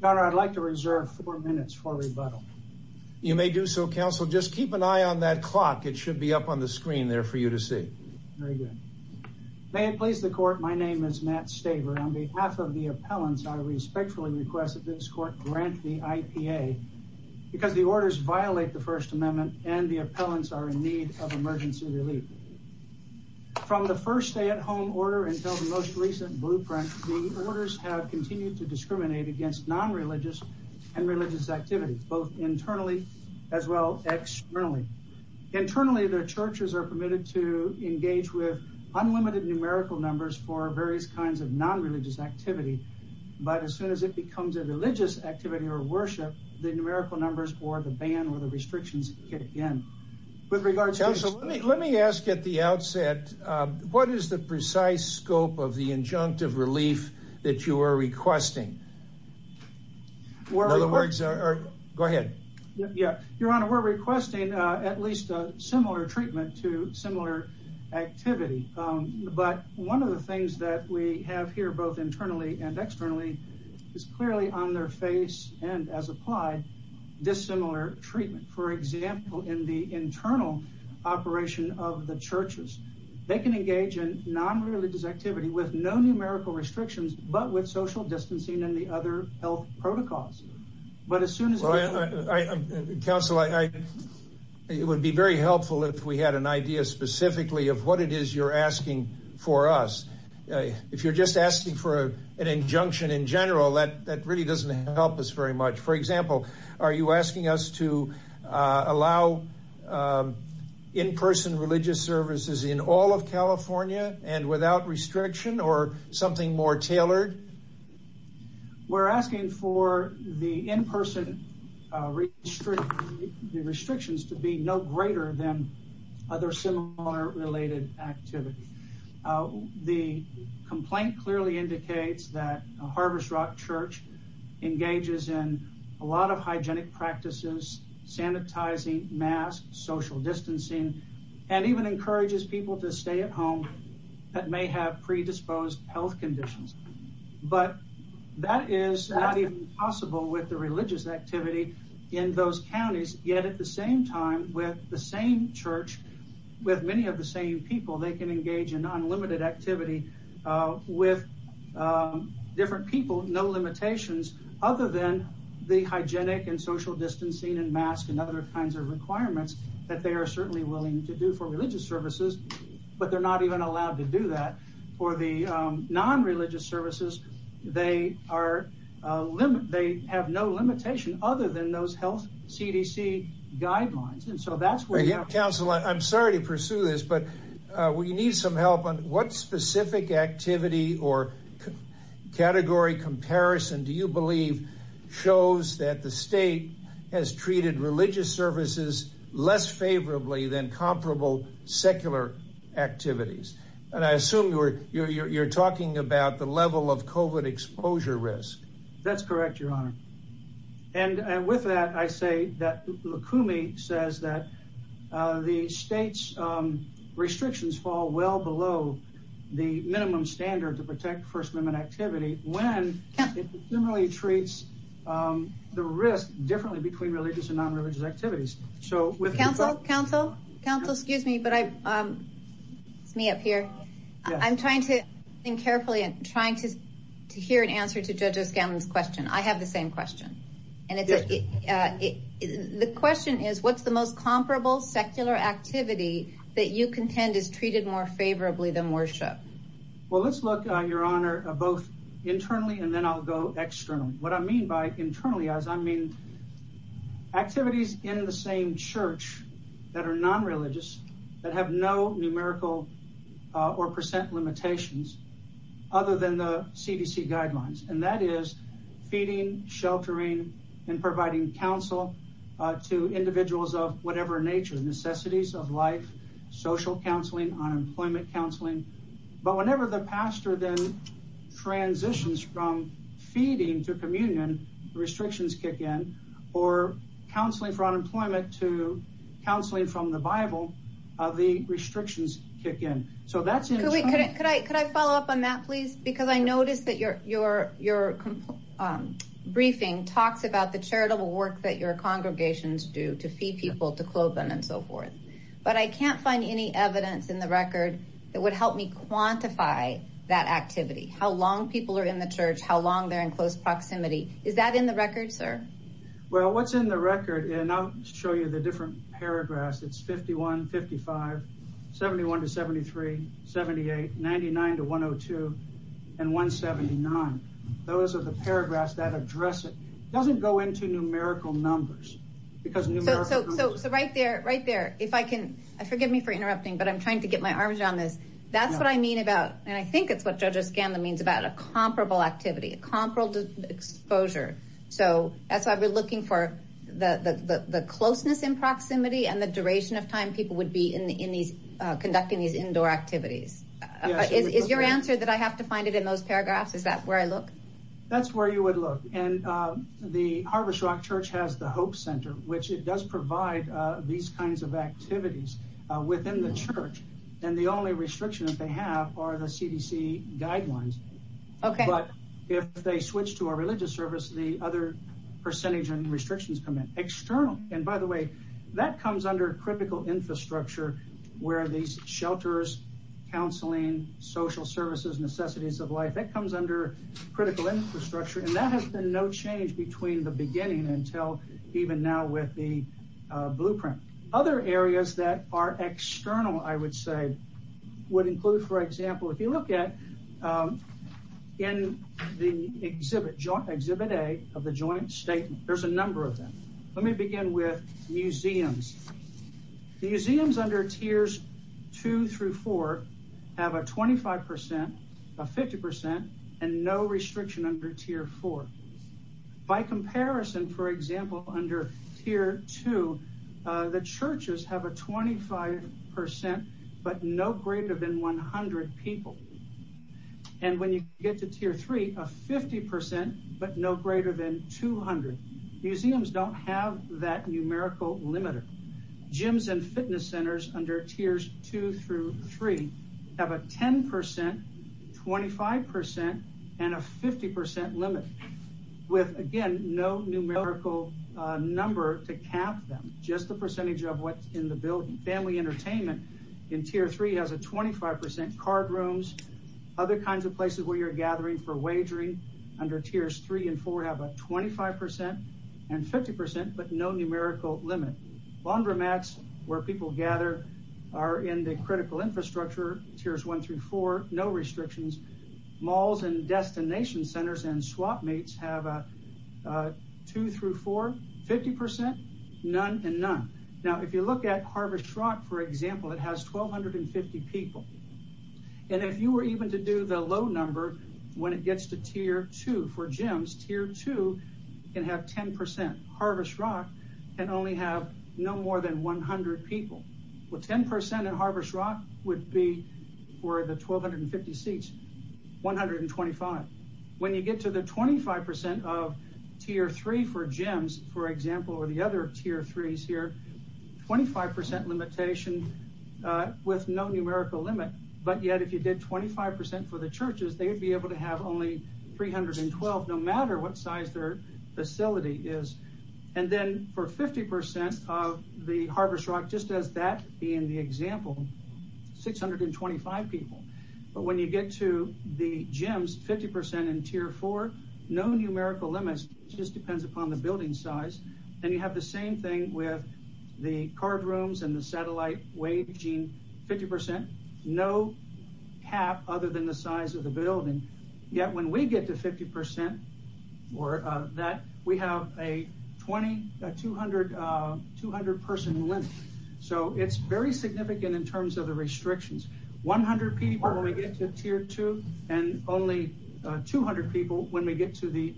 Governor, I'd like to reserve four minutes for rebuttal. You may do so, counsel. Just keep an eye on that clock. It should be up on the screen there for you to see. Very good. May it please the court, my name is Matt Staver. On behalf of the appellants, I respectfully request that this court grant the IPA because the orders violate the First Amendment and the appellants are in need of emergency relief. From the first stay-at-home order until the most recent blueprint, the orders have continued to discriminate against non-religious and religious activities, both internally as well externally. Internally, the churches are permitted to engage with unlimited numerical numbers for various kinds of non-religious activity. But as soon as it becomes a religious activity or worship, the numerical numbers or the ban or the restrictions kick in. With regards, counsel, let me ask at the outset, what is the precise scope of the injunctive relief that you are requesting? Go ahead. Your Honor, we're requesting at least a similar treatment to similar activity. But one of the things that we have here, both internally and externally, is clearly on their face and as applied, dissimilar treatment. For example, in the internal operation of the churches, they can engage in non-religious activity with no numerical restrictions, but with social distancing and the other health protocols. But as soon as... Counsel, it would be very helpful if we had an idea specifically of what it is you're asking for us. If you're just asking for an injunction in general, that really doesn't help us very much. For example, are you asking us to allow in-person religious services in all of California and without restriction or something more tailored? We're asking for the in-person restrictions to be no greater than other similar related activities. The complaint clearly indicates that Harvest Rock Church engages in a lot of hygienic practices, sanitizing, masks, social distancing, and even encourages people to stay at home that may have predisposed health conditions. But that is not even possible with the religious activity in those counties. Yet at the same time, with the same church, with many of the same people, they can engage in unlimited activity with different people, no limitations, other than the hygienic and social distancing and mask and other kinds of requirements that they are certainly willing to do for religious services, but they're not even allowed to do that. For the non-religious services, they have no limitation other than those health CDC guidelines. Counsel, I'm sorry to pursue this, but we need some help on what specific activity or category comparison do you believe shows that the state has treated religious services less favorably than comparable secular activities? And I assume you're talking about the level of COVID exposure risk. That's correct, Your Honor. And with that, I say that Lukumi says that the state's restrictions fall well below the minimum standard to protect first-limit activity when Lukumi treats the risk differently between religious and non-religious activities. So with counsel, counsel, counsel, excuse me, but it's me up here. I'm trying to think carefully and trying to hear an answer to Judge O'Scallion's question. I have the same question. The question is, what's the most comparable secular activity that you contend is treated more favorably than worship? Well, let's look, Your Honor, both internally and then I'll go externally. What I mean by internally is I mean activities in the same church that are non-religious, that have no numerical or percent limitations other than the CDC guidelines. And that is feeding, sheltering, and providing counsel to individuals of whatever nature, necessities of life, social counseling, unemployment counseling. But whenever the pastor then transitions from feeding to communion, restrictions kick in, or counseling for unemployment to counseling from the Bible, the restrictions kick in. So that's- Could I follow up on that, please? Because I noticed that your briefing talks about the charitable work that your congregations do to feed people, to clothe them, and so forth. But I can't find any evidence in the record that would help me quantify that activity, how long people are in the church, how long they're in close proximity. Is that in the record, sir? Well, what's in the record, and I'll show you the different paragraphs. It's 51, 55, 71 to 73, 78, 99 to 102, and 179. Those are the paragraphs that address it. It doesn't go into numerical numbers because- So right there, right there, if I can, forgive me for interrupting, but I'm trying to get my arms around this. That's what I mean about, and I think it's what Judge O'Scanlan means, about a comparable activity, a comparable exposure. So that's why we're looking for the closeness in proximity, and the duration of time people would be conducting these indoor activities. Is your answer that I have to find it in those paragraphs? Is that where I look? That's where you would look. And the Harvest Rock Church has the Hope Center, which it does provide these kinds of activities within the church. And the only restrictions they have are the CDC guidelines. But if they switch to a religious service, the other percentage and restrictions come in external. And by the way, that comes under critical infrastructure, where these shelters, counseling, social services, necessities of life, that comes under critical infrastructure. And that has been no change between the beginning until even now with the blueprint. Other areas that are external, I would say, would include, for example, if you look at in the exhibit, exhibit A of the Joint Statement, there's a number of them. Let me begin with museums. The museums under tiers two through four have a 25%, a 50%, and no restriction under tier four. By comparison, for example, under tier two, the churches have a 25%, but no greater than 100 people. And when you get to tier three, a 50%, but no greater than 200. Museums don't have that numerical limiter. Gyms and fitness centers under tiers two through three have a 10%, 25%, and a 50% limit. With, again, no numerical number to count them, just the percentage of what's in the building. Family entertainment in tier three has a 25%. Card rooms, other kinds of places where you're gathering for wagering under tiers three and four have a 25% and 50%, but no numerical limit. Laundromats, where people gather, are in the critical infrastructure, tiers one through four, no restrictions. Malls and destination centers and swapmates have a two through four, 50%, none, and none. Now, if you look at Harvest Rock, for example, it has 1,250 people. And if you were even to do the low number, when it gets to tier two for gyms, tier two can have 10%. Harvest Rock can only have no more than 100 people. With 10% in Harvest Rock would be, for the 1,250 seats, 125. When you get to the 25% of tier three for gyms, for example, or the other tier threes here, 25% limitation with no numerical limit. But yet, if you did 25% for the churches, they would be able to have only 312, no matter what size their facility is. And then for 50% of the Harvest Rock, just as that being the example, 625 people. But when you get to the gyms, 50% in tier four, no numerical limits, just depends upon the building size. And you have the same thing with the card rooms and the satellite waging 50%, no cap other than the size of the building. Yet, when we get to 50% or that, we have a 200 person limit. So it's very significant in terms of the restrictions. 100 people when we get to tier two and only 200 people when we get to the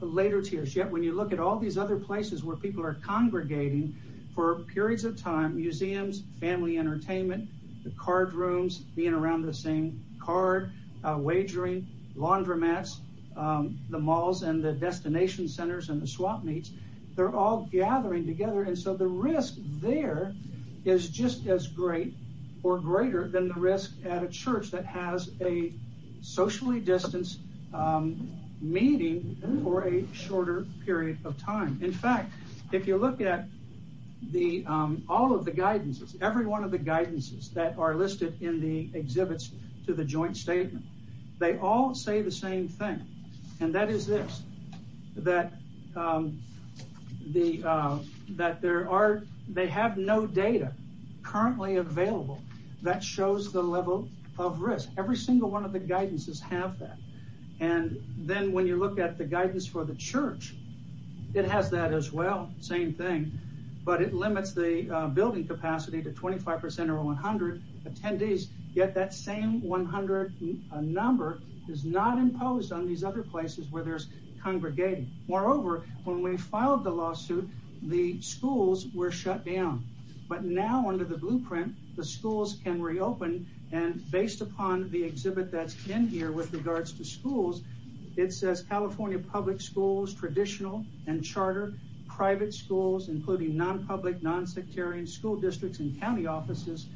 later tiers. Yet, when you look at all these other places where people are congregating for periods of time, museums, family entertainment, the card rooms, being around the same card, wagering, laundromats, the malls and the destination centers and the swap meets. They're all gathering together. And so the risk there is just as great or greater than the risk at a church that has a socially distanced meeting for a shorter period of time. In fact, if you look at all of the guidances, every one of the guidances that are listed in the exhibits to the joint statement, they all say the same thing. And that is this, that they have no data currently available that shows the level of risk. Every single one of the guidances have that. And then when you look at the guidance for the church, it has that as well. Same thing, but it limits the building capacity to 25% or 100 attendees. Yet that same 100 number is not imposed on these other places where there's congregating. Moreover, when we filed the lawsuit, the schools were shut down. But now under the blueprint, the schools can reopen. And based upon the exhibit that's in here with regards to schools, it says California public schools, traditional and charter, private schools, including non-public, non-sectarian school districts and county offices,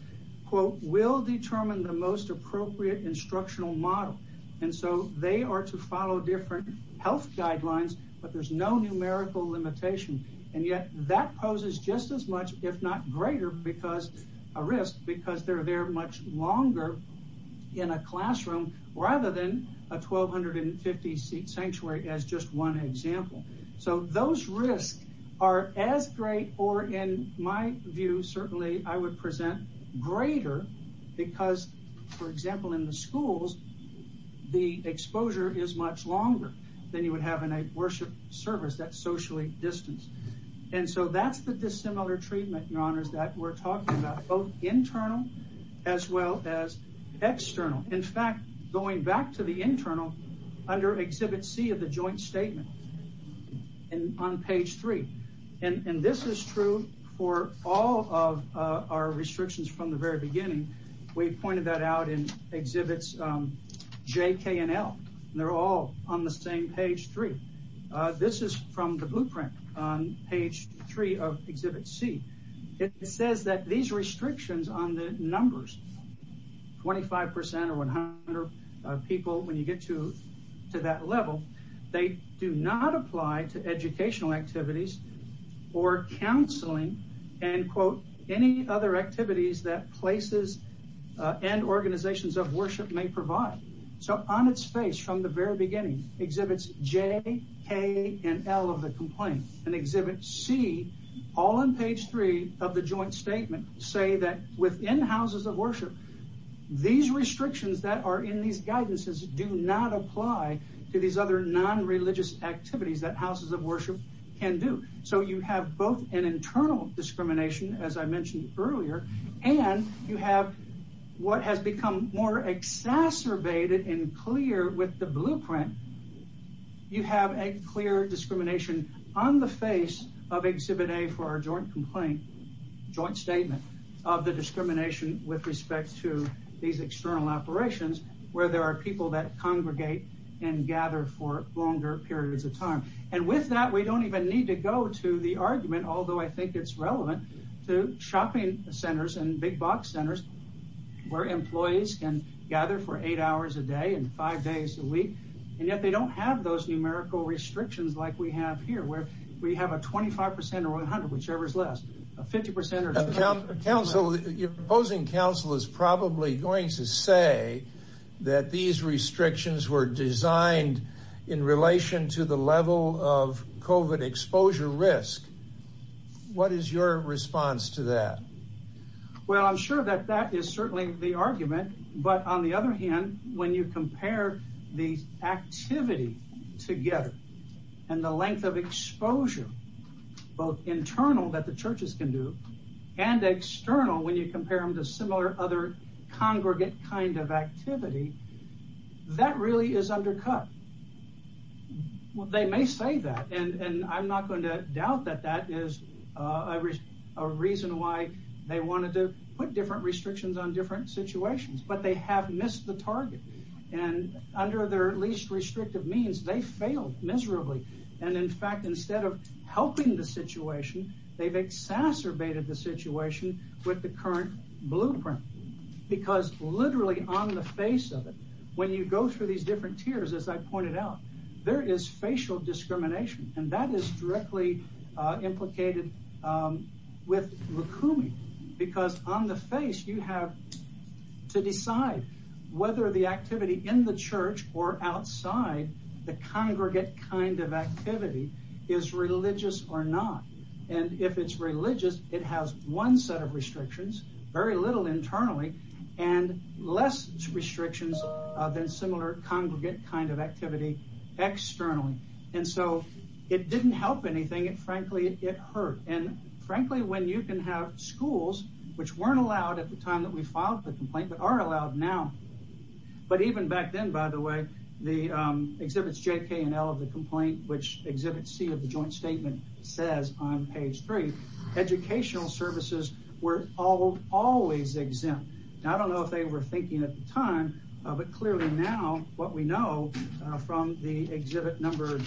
will determine the most appropriate instructional model. And so they are to follow different health guidelines, but there's no numerical limitation. And yet that poses just as much, if not greater, a risk because they're there much longer in a classroom rather than a 1,250 seat sanctuary as just one example. So those risks are as great, or in my view, certainly I would present greater, because, for example, in the schools, the exposure is much longer than you would have in a worship service that's socially distanced. And so that's the dissimilar treatment, Your Honors, that we're talking about, both internal as well as external. In fact, going back to the internal, under exhibit C of the joint statement on page three, and this is true for all of our restrictions from the very beginning, we pointed that out in exhibits J, K, and L. They're all on the same page three. This is from the blueprint on page three of exhibit C. It says that these restrictions on the numbers, 25% or 100 people when you get to that level, they do not apply to educational activities or counseling and, quote, any other activities that places and organizations of worship may provide. So on its face from the very beginning exhibits J, K, and L of the complaint, and exhibit C, all on page three of the joint statement, say that within houses of worship, these restrictions that are in these guidances do not apply to these other non-religious activities that houses of worship can do. So you have both an internal discrimination, as I mentioned earlier, and you have what has become more exacerbated and clear with the blueprint. You have a clear discrimination on the face of exhibit A for our joint complaint, joint statement of the discrimination with respect to these external operations, where there are people that congregate and gather for longer periods of time. And with that, we don't even need to go to the argument, although I think it's relevant to shopping centers and big box centers, where employees can gather for eight hours a day and five days a week. And yet they don't have those numerical restrictions like we have here, where we have a 25% or 100, whichever is less, a 50% or- A council, your opposing council is probably going to say that these restrictions were designed in relation to the level of COVID exposure risk. What is your response to that? Well, I'm sure that that is certainly the argument, but on the other hand, when you compare the activity together and the length of exposure, both internal that the churches can do and external, when you compare them to similar other congregate kind of activity, that really is undercut. Well, they may say that, and I'm not going to doubt that that is a reason why they wanted to put different restrictions on different situations, but they have missed the target. And under their least restrictive means, they failed miserably. And in fact, instead of helping the situation, they've exacerbated the situation with the current blueprint. Because literally on the face of it, when you go through these different tiers, as I pointed out, there is facial discrimination. And that is directly implicated with Rukumi. Because on the face, you have to decide whether the activity in the church or outside, the congregate kind of activity is religious or not. And if it's religious, it has one set of restrictions, very little internally, and less restrictions than similar congregate kind of activity externally. And so it didn't help anything. And frankly, it hurt. And frankly, when you can have schools, which weren't allowed at the time that we filed the complaint, but are allowed now. But even back then, by the way, the exhibits JK and L of the complaint, which exhibit C of the joint statement says on page three, educational services were always exempt. I don't know if they were thinking at the time, but clearly now, what we know from the exhibit number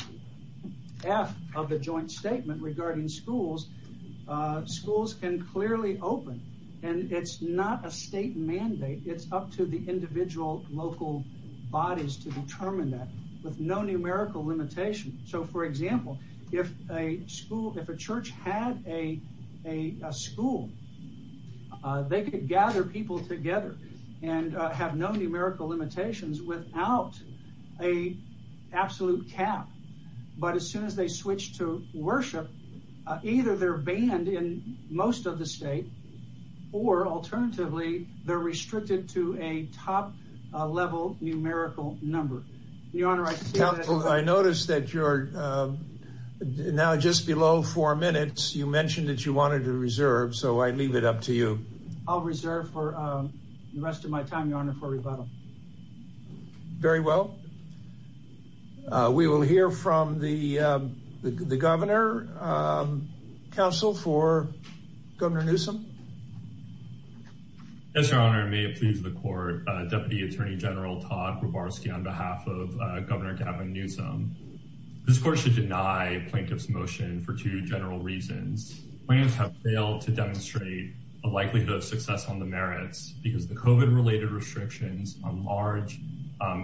F of the joint statement regarding schools, schools can clearly open. And it's not a state mandate. It's up to the individual local bodies to determine that with no numerical limitation. So, for example, if a school, if a church had a school, they could gather people together and have no numerical limitations without a absolute cap. But as soon as they switch to worship, either they're banned in most of the state, or alternatively, they're restricted to a top level numerical number. Your Honor, I noticed that you're now just below four minutes. You mentioned that you wanted to reserve, so I leave it up to you. I'll reserve for the rest of my time, Your Honor, for rebuttal. Very well. We will hear from the governor. Counsel for Governor Newsom. Yes, Your Honor. May it please the court. Deputy Attorney General Todd Grabowski on behalf of Governor Gavin Newsom. This court should deny plaintiff's motion for two general reasons. Plaintiffs have failed to demonstrate a likelihood of success on the merits because the COVID-related restrictions on large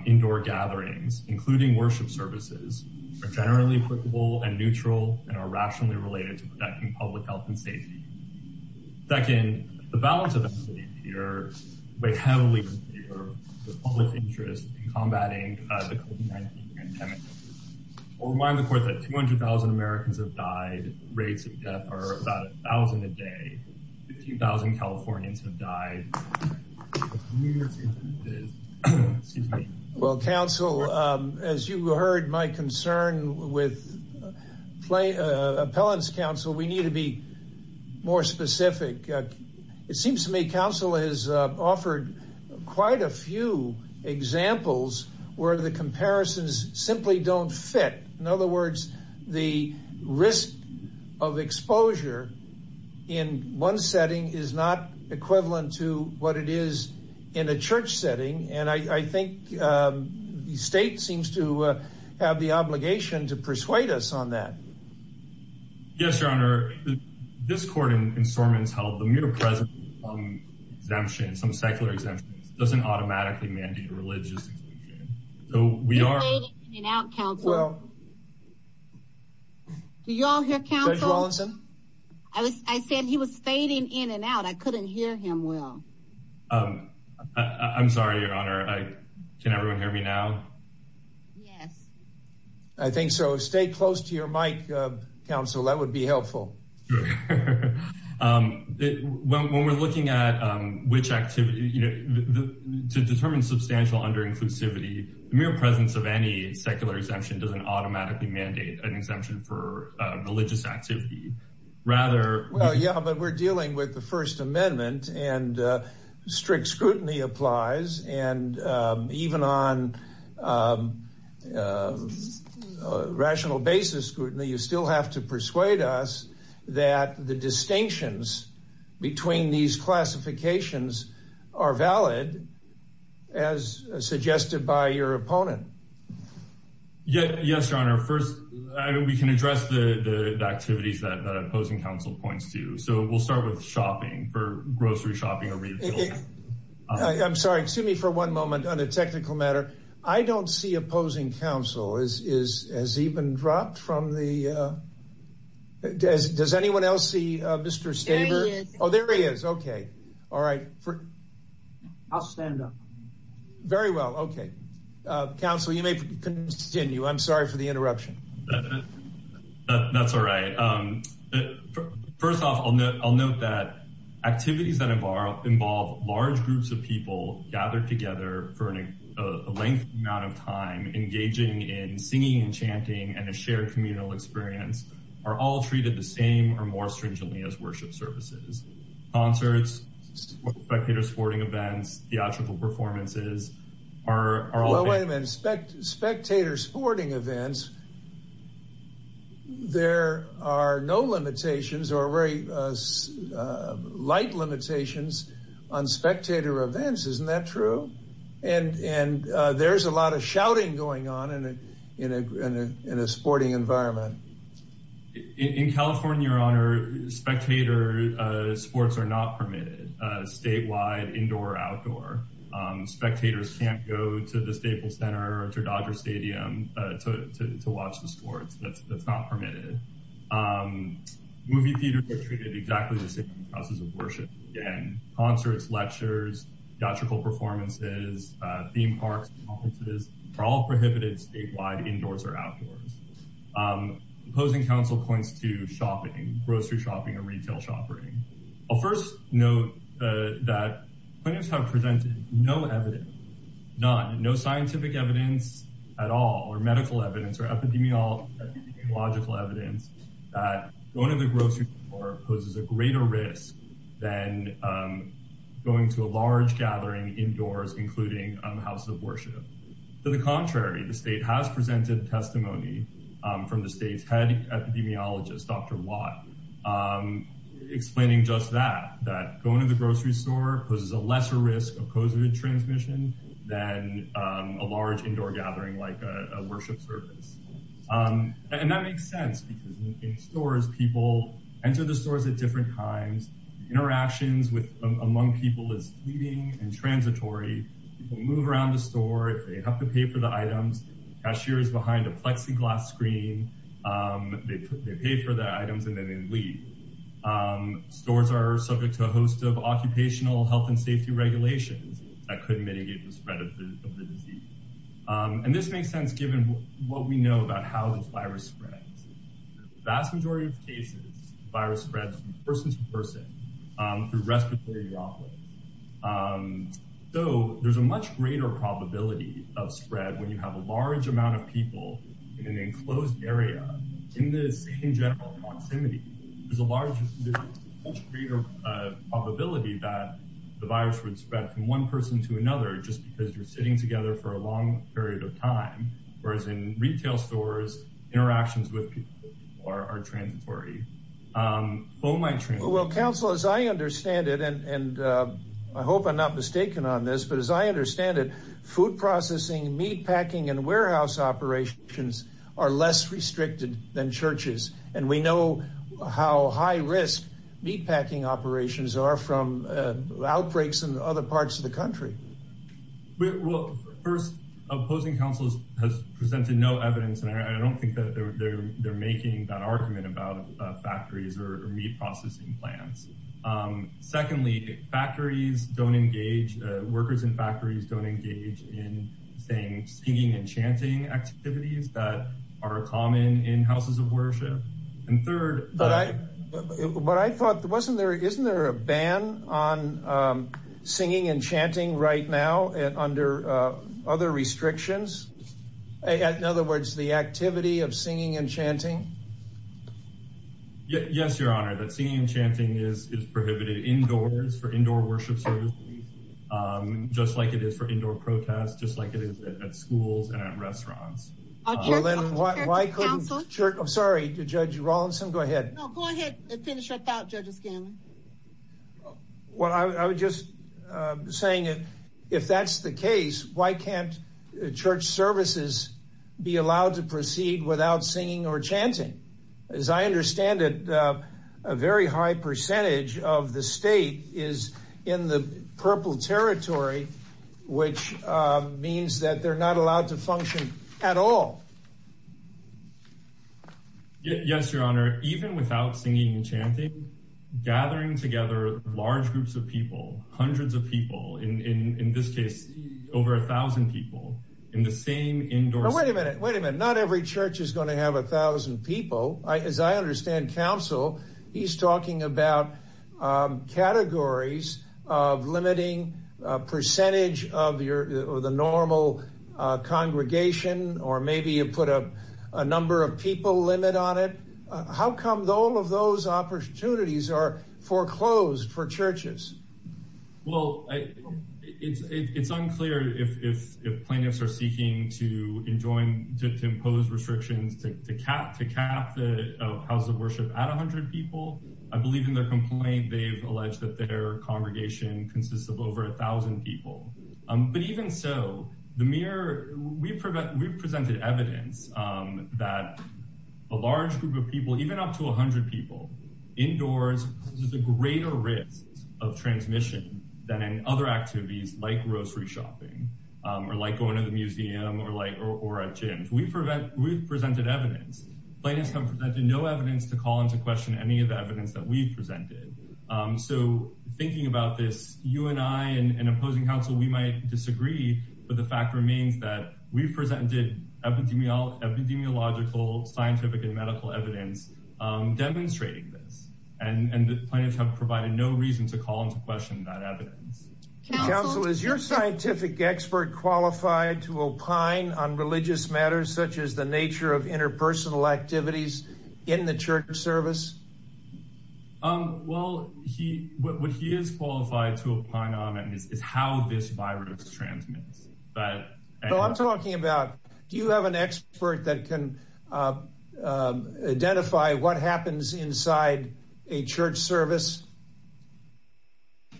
indoor gatherings, including worship services, are generally applicable and neutral and are rationally related to protecting public health and safety. Second, the balance of equity here, we heavily consider the public interest in combating the COVID-19 pandemic. I'll remind the court that 200,000 Americans have died. Rates of death are about 1,000 a day. 15,000 Californians have died. Well, counsel, as you heard my concern with appellants, counsel, we need to be more specific. It seems to me counsel has offered quite a few examples where the comparisons simply don't fit. In other words, the risk of exposure in one setting is not equivalent to what it is in a church setting. And I think the state seems to have the obligation to persuade us on that. Yes, Your Honor. This court in Sormons held the mutipresence of some secular exemptions doesn't automatically mandate a religious exemption. He was fading in and out, counsel. Do you all hear, counsel? Judge Wallinson? I said he was fading in and out. I couldn't hear him well. I'm sorry, Your Honor. Can everyone hear me now? Yes. I think so. Stay close to your mic, counsel. That would be helpful. Sure. When we're looking at which activity, you know, to determine substantial under-inclusivity, the mere presence of any secular exemption doesn't automatically mandate an exemption for religious activity. Rather... Well, yeah, but we're dealing with the First Amendment and strict scrutiny applies. And even on rational basis scrutiny, you still have to persuade us that the distinctions between these classifications are valid, as suggested by your opponent. Yes, Your Honor. First, we can address the activities that opposing counsel points to. So we'll start with shopping, for grocery shopping. I'm sorry, excuse me for one moment on a technical matter. I don't see opposing counsel has even dropped from the... Does anyone else see Mr. Staber? Oh, there he is. Okay. All right. I'll stand up. Very well. Okay. Counsel, you may continue. I'm sorry for the interruption. That's all right. But first off, I'll note that activities that involve large groups of people gathered together for a lengthy amount of time, engaging in singing and chanting and a shared communal experience are all treated the same or more stringently as worship services. Concerts, spectator sporting events, theatrical performances are all... Well, wait a minute. Spectator sporting events, there are no limitations or very light limitations on spectator events. Isn't that true? And there's a lot of shouting going on in a sporting environment. In California, Your Honor, spectator sports are not permitted, statewide, indoor, outdoor. Spectators can't go to the Staples Center or to Dodger Stadium to watch the sports. That's not permitted. Movie theaters are treated exactly the same as worship, again. Concerts, lectures, theatrical performances, theme parks, conferences are all prohibited statewide, indoors or outdoors. Opposing counsel points to shopping, grocery shopping, or retail shopping. I'll first note that plaintiffs have presented no evidence, none, no scientific evidence at all or medical evidence or epidemiological evidence that going to the grocery store poses a greater risk than going to a large gathering indoors, including houses of worship. To the contrary, the state has presented testimony from the state's head epidemiologist, Dr. Watt, explaining just that, that going to the grocery store poses a lesser risk of COVID transmission than a large indoor gathering like a worship service. And that makes sense because in stores, people enter the stores at different times. Interactions among people is fleeting and transitory. People move around the store. If they have to pay for the items, the cashier is behind a Plexiglas screen. They pay for the items and then they leave. Stores are subject to a host of occupational health and safety regulations that could mitigate the spread of the disease. And this makes sense given what we know about how this virus spreads. In the vast majority of cases, the virus spreads from person to person through respiratory droplets. So there's a much greater probability of spread when you have a large amount of people in an enclosed area in this in general proximity. There's a much greater probability that the virus would spread from one person to another just because you're sitting together for a long period of time, whereas in retail stores, interactions with people are transitory. Well, counsel, as I understand it, and I hope I'm not mistaken on this, but as I understand it, food processing, meatpacking and warehouse operations are less restricted than churches. And we know how high risk meatpacking operations are from outbreaks in other parts of the country. First, opposing counsel has presented no evidence, and I don't think that they're making that argument about factories or meat processing plants. Secondly, factories don't engage workers in factories don't engage in singing and chanting activities that are common in houses of worship. And third, but I thought there wasn't there. Isn't there a ban on singing and chanting right now under other restrictions? In other words, the activity of singing and chanting. Yes, Your Honor, that singing and chanting is prohibited indoors for indoor worship services, just like it is for indoor protests, just like it is at schools and at restaurants. Well, then why couldn't church? I'm sorry, Judge Rawlinson. Go ahead. No, go ahead and finish up out, Judge O'Scanlan. Well, I was just saying if that's the case, why can't church services be allowed to proceed without singing or chanting? As I understand it, a very high percentage of the state is in the purple territory, which means that they're not allowed to function at all. Yes, Your Honor, even without singing and chanting, gathering together large groups of people, hundreds of people, in this case, over a thousand people in the same indoor. Wait a minute. Wait a minute. Not every church is going to have a thousand people. As I understand counsel, he's talking about categories of limiting percentage of the normal congregation, or maybe you put a number of people limit on it. How come all of those opportunities are foreclosed for churches? Well, it's unclear if plaintiffs are seeking to impose restrictions to cap the houses of worship at a hundred people. I believe in their complaint, they've alleged that their congregation consists of over a thousand people. But even so, we've presented evidence that a large group of people, even up to a hundred people, indoors poses a greater risk of transmission than in other activities, like grocery shopping, or like going to the museum, or at gyms. We've presented evidence. Plaintiffs have presented no evidence to call into question any of the evidence that we've presented. So thinking about this, you and I and opposing counsel, we might disagree, but the fact that we're demonstrating this, and the plaintiffs have provided no reason to call into question that evidence. Counsel, is your scientific expert qualified to opine on religious matters such as the nature of interpersonal activities in the church service? Well, what he is qualified to opine on is how this virus transmits. So I'm talking about, do you have an expert that can identify what happens inside a church service?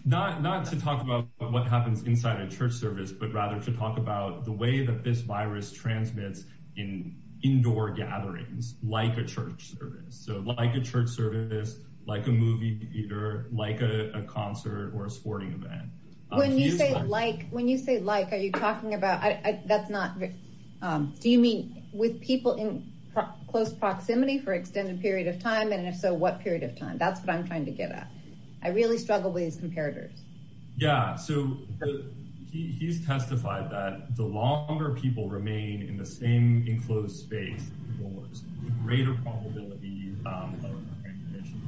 Not to talk about what happens inside a church service, but rather to talk about the way that this virus transmits in indoor gatherings, like a church service. So like a church service, like a movie theater, like a concert or a sporting event. When you say like, when you say like, are you talking about, that's not, do you mean with people in close proximity for extended period of time? And if so, what period of time? That's what I'm trying to get at. I really struggle with these comparators. Yeah, so he's testified that the longer people remain in the same enclosed space indoors, the greater probability of transmission.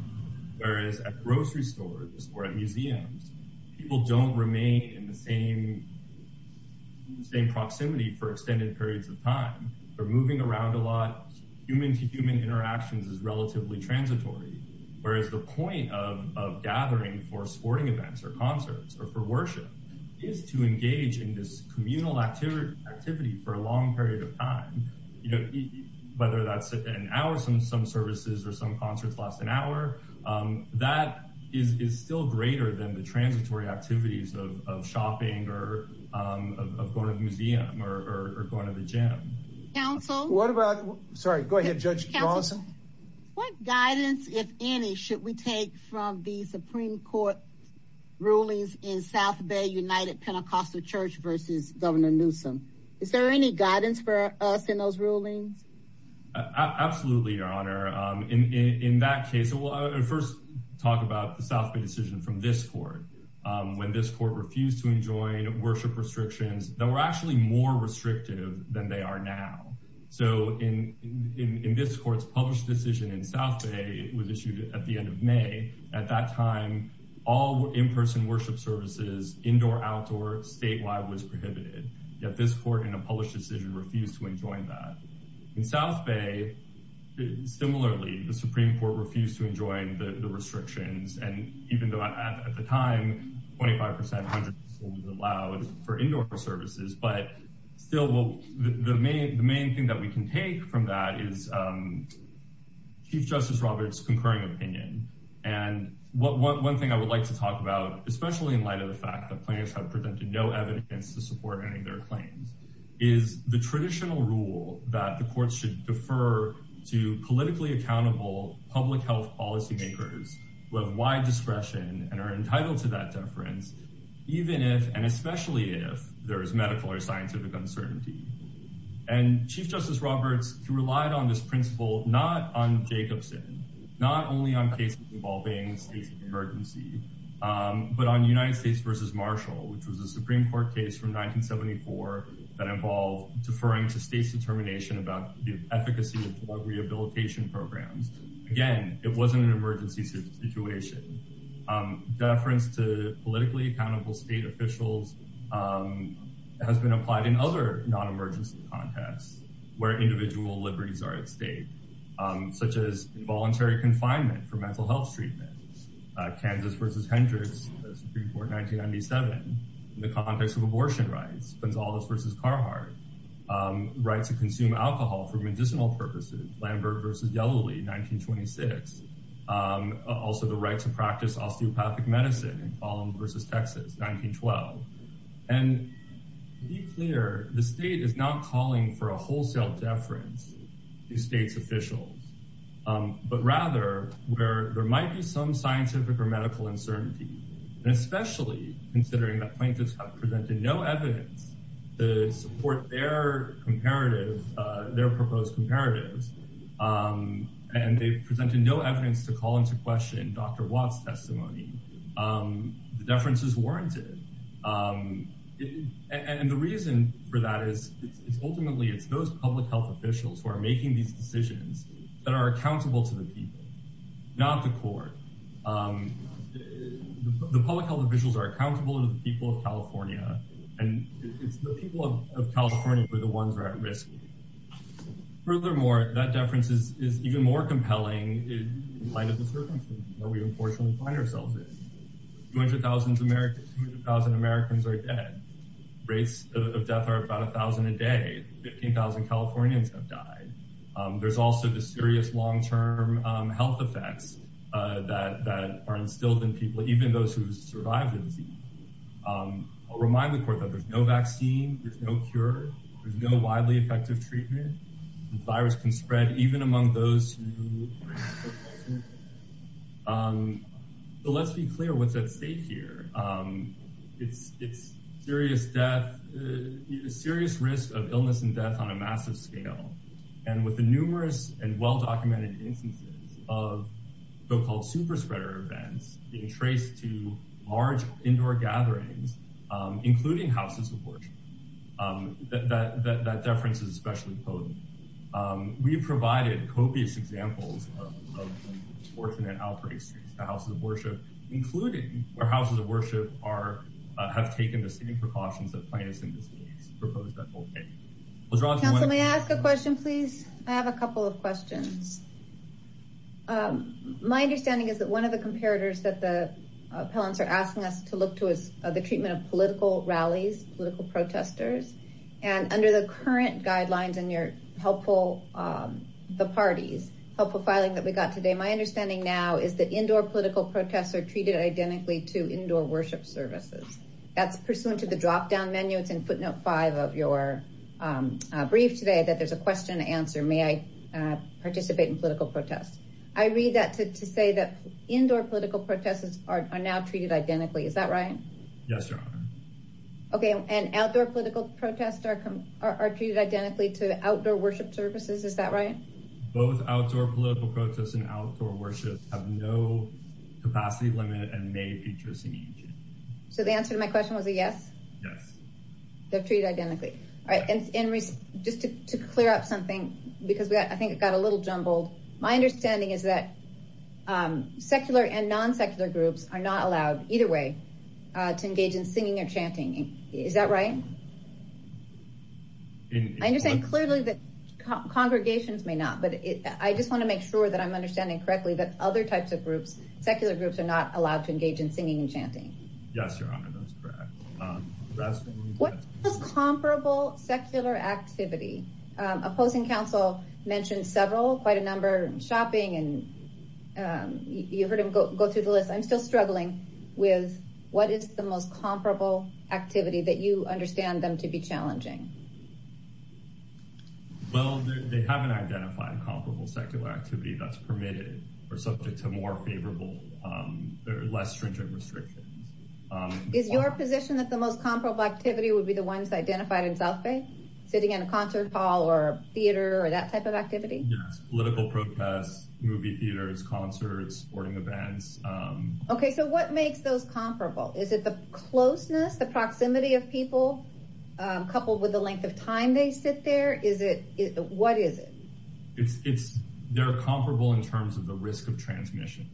Whereas at grocery stores or at museums, people don't remain in the same proximity for extended periods of time. They're moving around a lot. Human to human interactions is relatively transitory. Whereas the point of gathering for sporting events or concerts or for worship is to engage in this communal activity for a long period of time. You know, whether that's an hour, some services or some concerts last an hour, that is still greater than the transitory activities of shopping or of going to the museum or going to the gym. Council. What about, sorry, go ahead, Judge Lawson. What guidance, if any, should we take from the Supreme Court rulings in South Bay United Pentecostal Church versus Governor Newsom? Is there any guidance for us in those rulings? Absolutely, Your Honor. In that case, we'll first talk about the South Bay decision from this court, when this court refused to enjoin worship restrictions that were actually more restrictive than they are now. So in this court's published decision in South Bay, it was issued at the end of May. At that time, all in-person worship services, indoor, outdoor, statewide, was prohibited. Yet this court in a published decision refused to enjoin that. In South Bay, similarly, the Supreme Court refused to enjoin the restrictions. And even though at the time, 25%, 100% was allowed for indoor services. But still, the main thing that we can take from that is Chief Justice Roberts' concurring opinion. And one thing I would like to talk about, especially in light of the fact that plaintiffs have presented no evidence to support any of their claims, is the traditional rule that the courts should defer to politically accountable public health policymakers who have wide discretion and are entitled to that deference, even if, and especially if, there is medical or scientific uncertainty. And Chief Justice Roberts, who relied on this principle, not on Jacobson, not only on cases involving states of emergency, but on United States versus Marshall, which was a Supreme Court case from 1974 that involved deferring to states' determination about the efficacy of drug rehabilitation programs. Again, it wasn't an emergency situation. Deference to politically accountable state officials has been applied in other non-emergency contests where individual liberties are at stake, such as involuntary confinement for mental health treatments, Kansas versus Hendricks, the Supreme Court, 1997, in the context of abortion rights, Gonzalez versus Carhartt, right to consume alcohol for medicinal purposes, Lambert versus Yellowlee, 1926, also the right to practice osteopathic medicine in Fallon versus Texas, 1912. And to be clear, the state is not calling for a wholesale deference to states' officials, but rather where there might be some scientific or medical uncertainty, and especially considering that plaintiffs have presented no evidence to support their comparative, their proposed comparatives, and they've presented no evidence to call into question Dr. Watt's testimony, the deference is warranted. And the reason for that is, it's ultimately, it's those public health officials who are these decisions that are accountable to the people, not the court. The public health officials are accountable to the people of California, and it's the people of California who are the ones who are at risk. Furthermore, that deference is even more compelling in light of the circumstances that we unfortunately find ourselves in. 200,000 Americans are dead, rates of death are about 1,000 a day, 15,000 Californians have died. There's also the serious long-term health effects that are instilled in people, even those who survived the disease. I'll remind the court that there's no vaccine, there's no cure, there's no widely effective treatment. The virus can spread even among those who are in the hospital. Let's be clear what's at stake here. It's serious death, serious risk of illness and death on a massive scale. And with the numerous and well-documented instances of so-called super spreader events being traced to large indoor gatherings, including houses of worship, that deference is especially potent. We've provided copious examples of unfortunate outbreaks to houses of worship, including where houses of worship have taken the same precautions that Plaintiffs in this case proposed that they'll take. Counselor, may I ask a question, please? I have a couple of questions. My understanding is that one of the comparators that the appellants are asking us to look to is the treatment of political rallies, political protesters. And under the current guidelines in your helpful, the parties, helpful filing that we got today, my understanding now is that indoor political protests are treated identically to indoor worship services. That's pursuant to the drop down menu. It's in footnote five of your brief today that there's a question and answer. May I participate in political protests? I read that to say that indoor political protests are now treated identically. Is that right? Yes, Your Honor. Okay. And outdoor political protests are treated identically to outdoor worship services. Is that right? Both outdoor political protests and outdoor worship have no capacity limit and may interest in each. So the answer to my question was a yes? Yes. They're treated identically. All right. And just to clear up something, because I think it got a little jumbled, my understanding is that secular and non-secular groups are not allowed either way to engage in singing or chanting. Is that right? I understand clearly that congregations may not, but I just want to make sure that I'm understanding correctly that other types of groups, secular groups, are not allowed to engage in singing and chanting. Yes, Your Honor. That's correct. What is comparable secular activity? Opposing counsel mentioned several, quite a number, shopping and you heard him go through the list. I'm still struggling with what is the most comparable activity that you understand them to be challenging? Well, they haven't identified comparable secular activity that's permitted or subject to more favorable or less stringent restrictions. Is your position that the most comparable activity would be the ones identified in South Bay? Sitting in a concert hall or theater or that type of activity? Political protests, movie theaters, concerts, sporting events. Okay, so what makes those comparable? Is it the closeness, the proximity of people, coupled with the length of time they sit there? What is it? They're comparable in terms of the risk of transmission.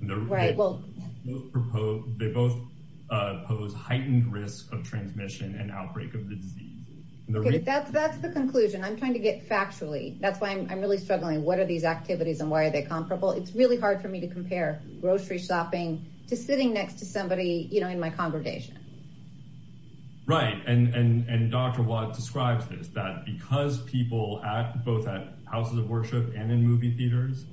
They both pose heightened risk of transmission and outbreak of the disease. Okay, that's the conclusion. I'm trying to get factually. That's why I'm really struggling. What are these activities and why are they comparable? It's really hard for me to compare grocery shopping to sitting next to somebody, you know, in my congregation. Right, and Dr. Watt describes this, that because people act both at houses of worship and in movie theaters,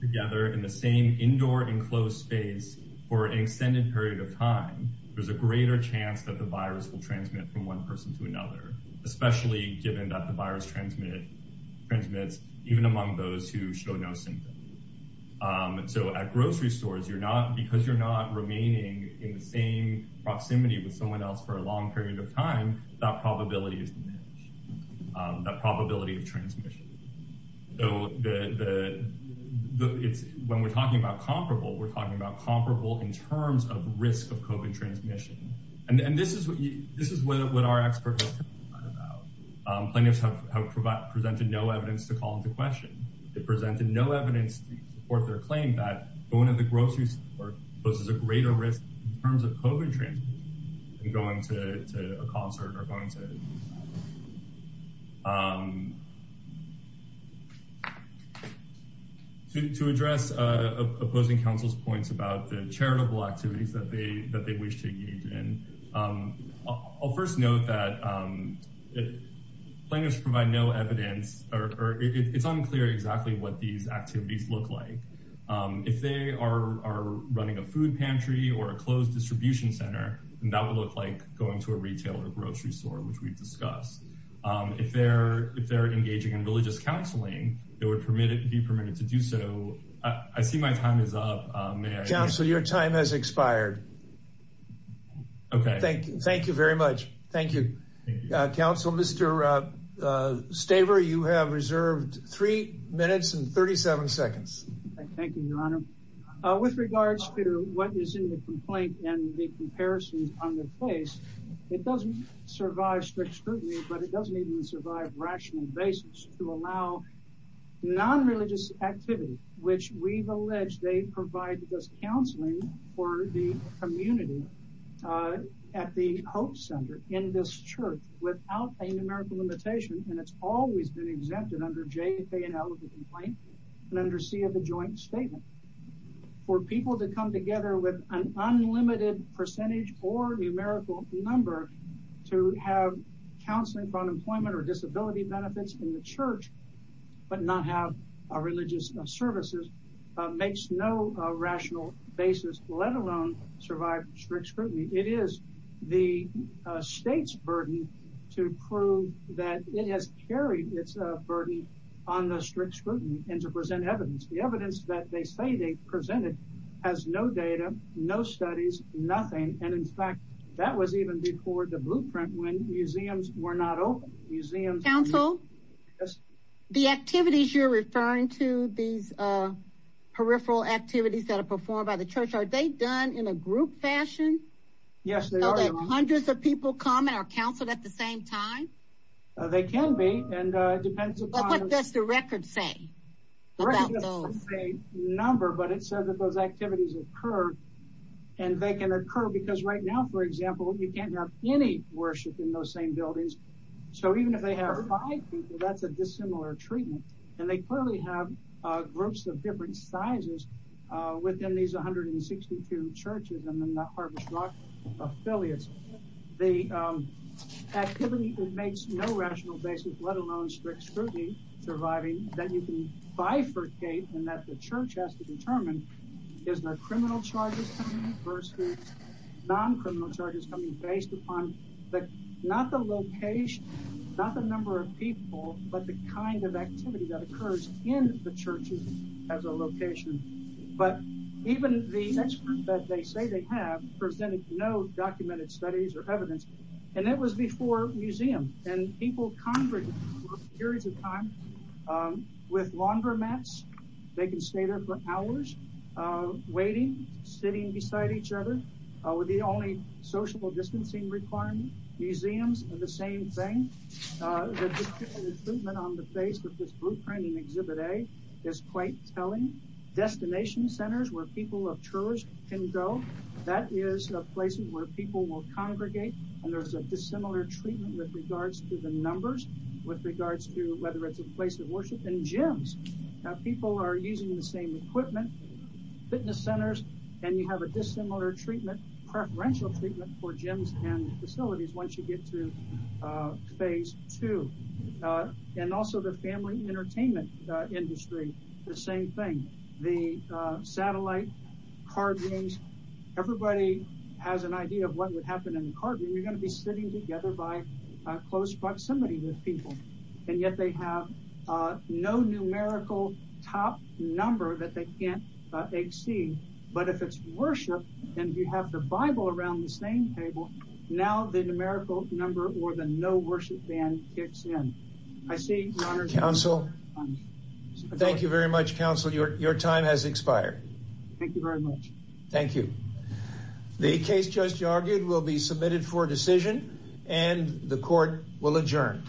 together in the same indoor enclosed space for an extended period of time, there's a greater chance that the virus will transmit from one person to another, especially given that the virus transmits even among those who show no symptom. And so at grocery stores, because you're not remaining in the same proximity with someone else for a long period of time, that probability is diminished, that probability of transmission. So when we're talking about comparable, we're talking about comparable in terms of risk of COVID transmission. And this is what our experts have talked about. Plaintiffs have presented no evidence to call into question. They presented no evidence to support their claim that going to the grocery store poses a greater risk in terms of COVID transmission than going to a concert or going to... To address opposing council's points about the charitable activities that they wish to do, I'll first note that plaintiffs provide no evidence or it's unclear exactly what these activities look like. If they are running a food pantry or a closed distribution center, then that would look like going to a retail or grocery store, which we've discussed. If they're engaging in religious counseling, they would be permitted to do so. I see my time is up. Council, your time has expired. Thank you very much. Thank you. Council, Mr. Staver, you have reserved three minutes and 37 seconds. Thank you, your honor. With regards to what is in the complaint and the comparisons on the place, it doesn't survive strict scrutiny, but it doesn't even survive rational basis to allow non-religious activity, which we've alleged they provide this counseling for the community at the Hope Center in this church without a numerical limitation, and it's always been exempted under J, K, and L of the complaint and under C of the joint statement. For people to come together with an unlimited percentage or numerical number to have counseling for unemployment or disability benefits in the church but not have religious services makes no rational basis, let alone survive strict scrutiny. It is the state's burden to prove that it has carried its burden on the strict scrutiny and to present evidence. The evidence that they say they presented has no data, no studies, nothing, and in fact, that was even before the blueprint when museums were not open. Council, the activities you're referring to, these peripheral activities that are performed by the church, are they done in a group fashion? Yes, they are. Hundreds of people come and are counseled at the same time? They can be, and it depends upon- What does the record say about those? The record doesn't say number, but it says that those activities occur, and they can you can't have any worship in those same buildings, so even if they have five people, that's a dissimilar treatment, and they clearly have groups of different sizes within these 162 churches and the Harvest Rock affiliates. The activity that makes no rational basis, let alone strict scrutiny, surviving, that you can bifurcate and that the church has to determine is the criminal charges versus non-criminal charges coming based upon not the location, not the number of people, but the kind of activity that occurs in the churches as a location, but even the experts that they say they have presented no documented studies or evidence, and it was before museums, and people congregated for periods of time with laundromats. They can stay there for hours waiting, sitting beside each other with the only social distancing requirement. Museums are the same thing. The recruitment on the face of this blueprint in Exhibit A is quite telling. Destination centers where people of church can go, that is a place where people will congregate, and there's a dissimilar treatment with regards to the numbers, with regards to whether it's a place of worship, and gyms. People are using the same equipment, fitness centers, and you have a dissimilar treatment, preferential treatment for gyms and facilities once you get through phase two. And also the family entertainment industry, the same thing. The satellite, car games, everybody has an idea of what would happen in a car game. You're going to be sitting together by close proximity with people, and yet they have no numerical top number that they can't exceed. But if it's worship, and you have the Bible around the same table, now the numerical number or the no worship ban kicks in. I see your honor. Counsel, thank you very much. Counsel, your time has expired. Thank you very much. Thank you. The case just argued will be submitted for decision, and the court will adjourn.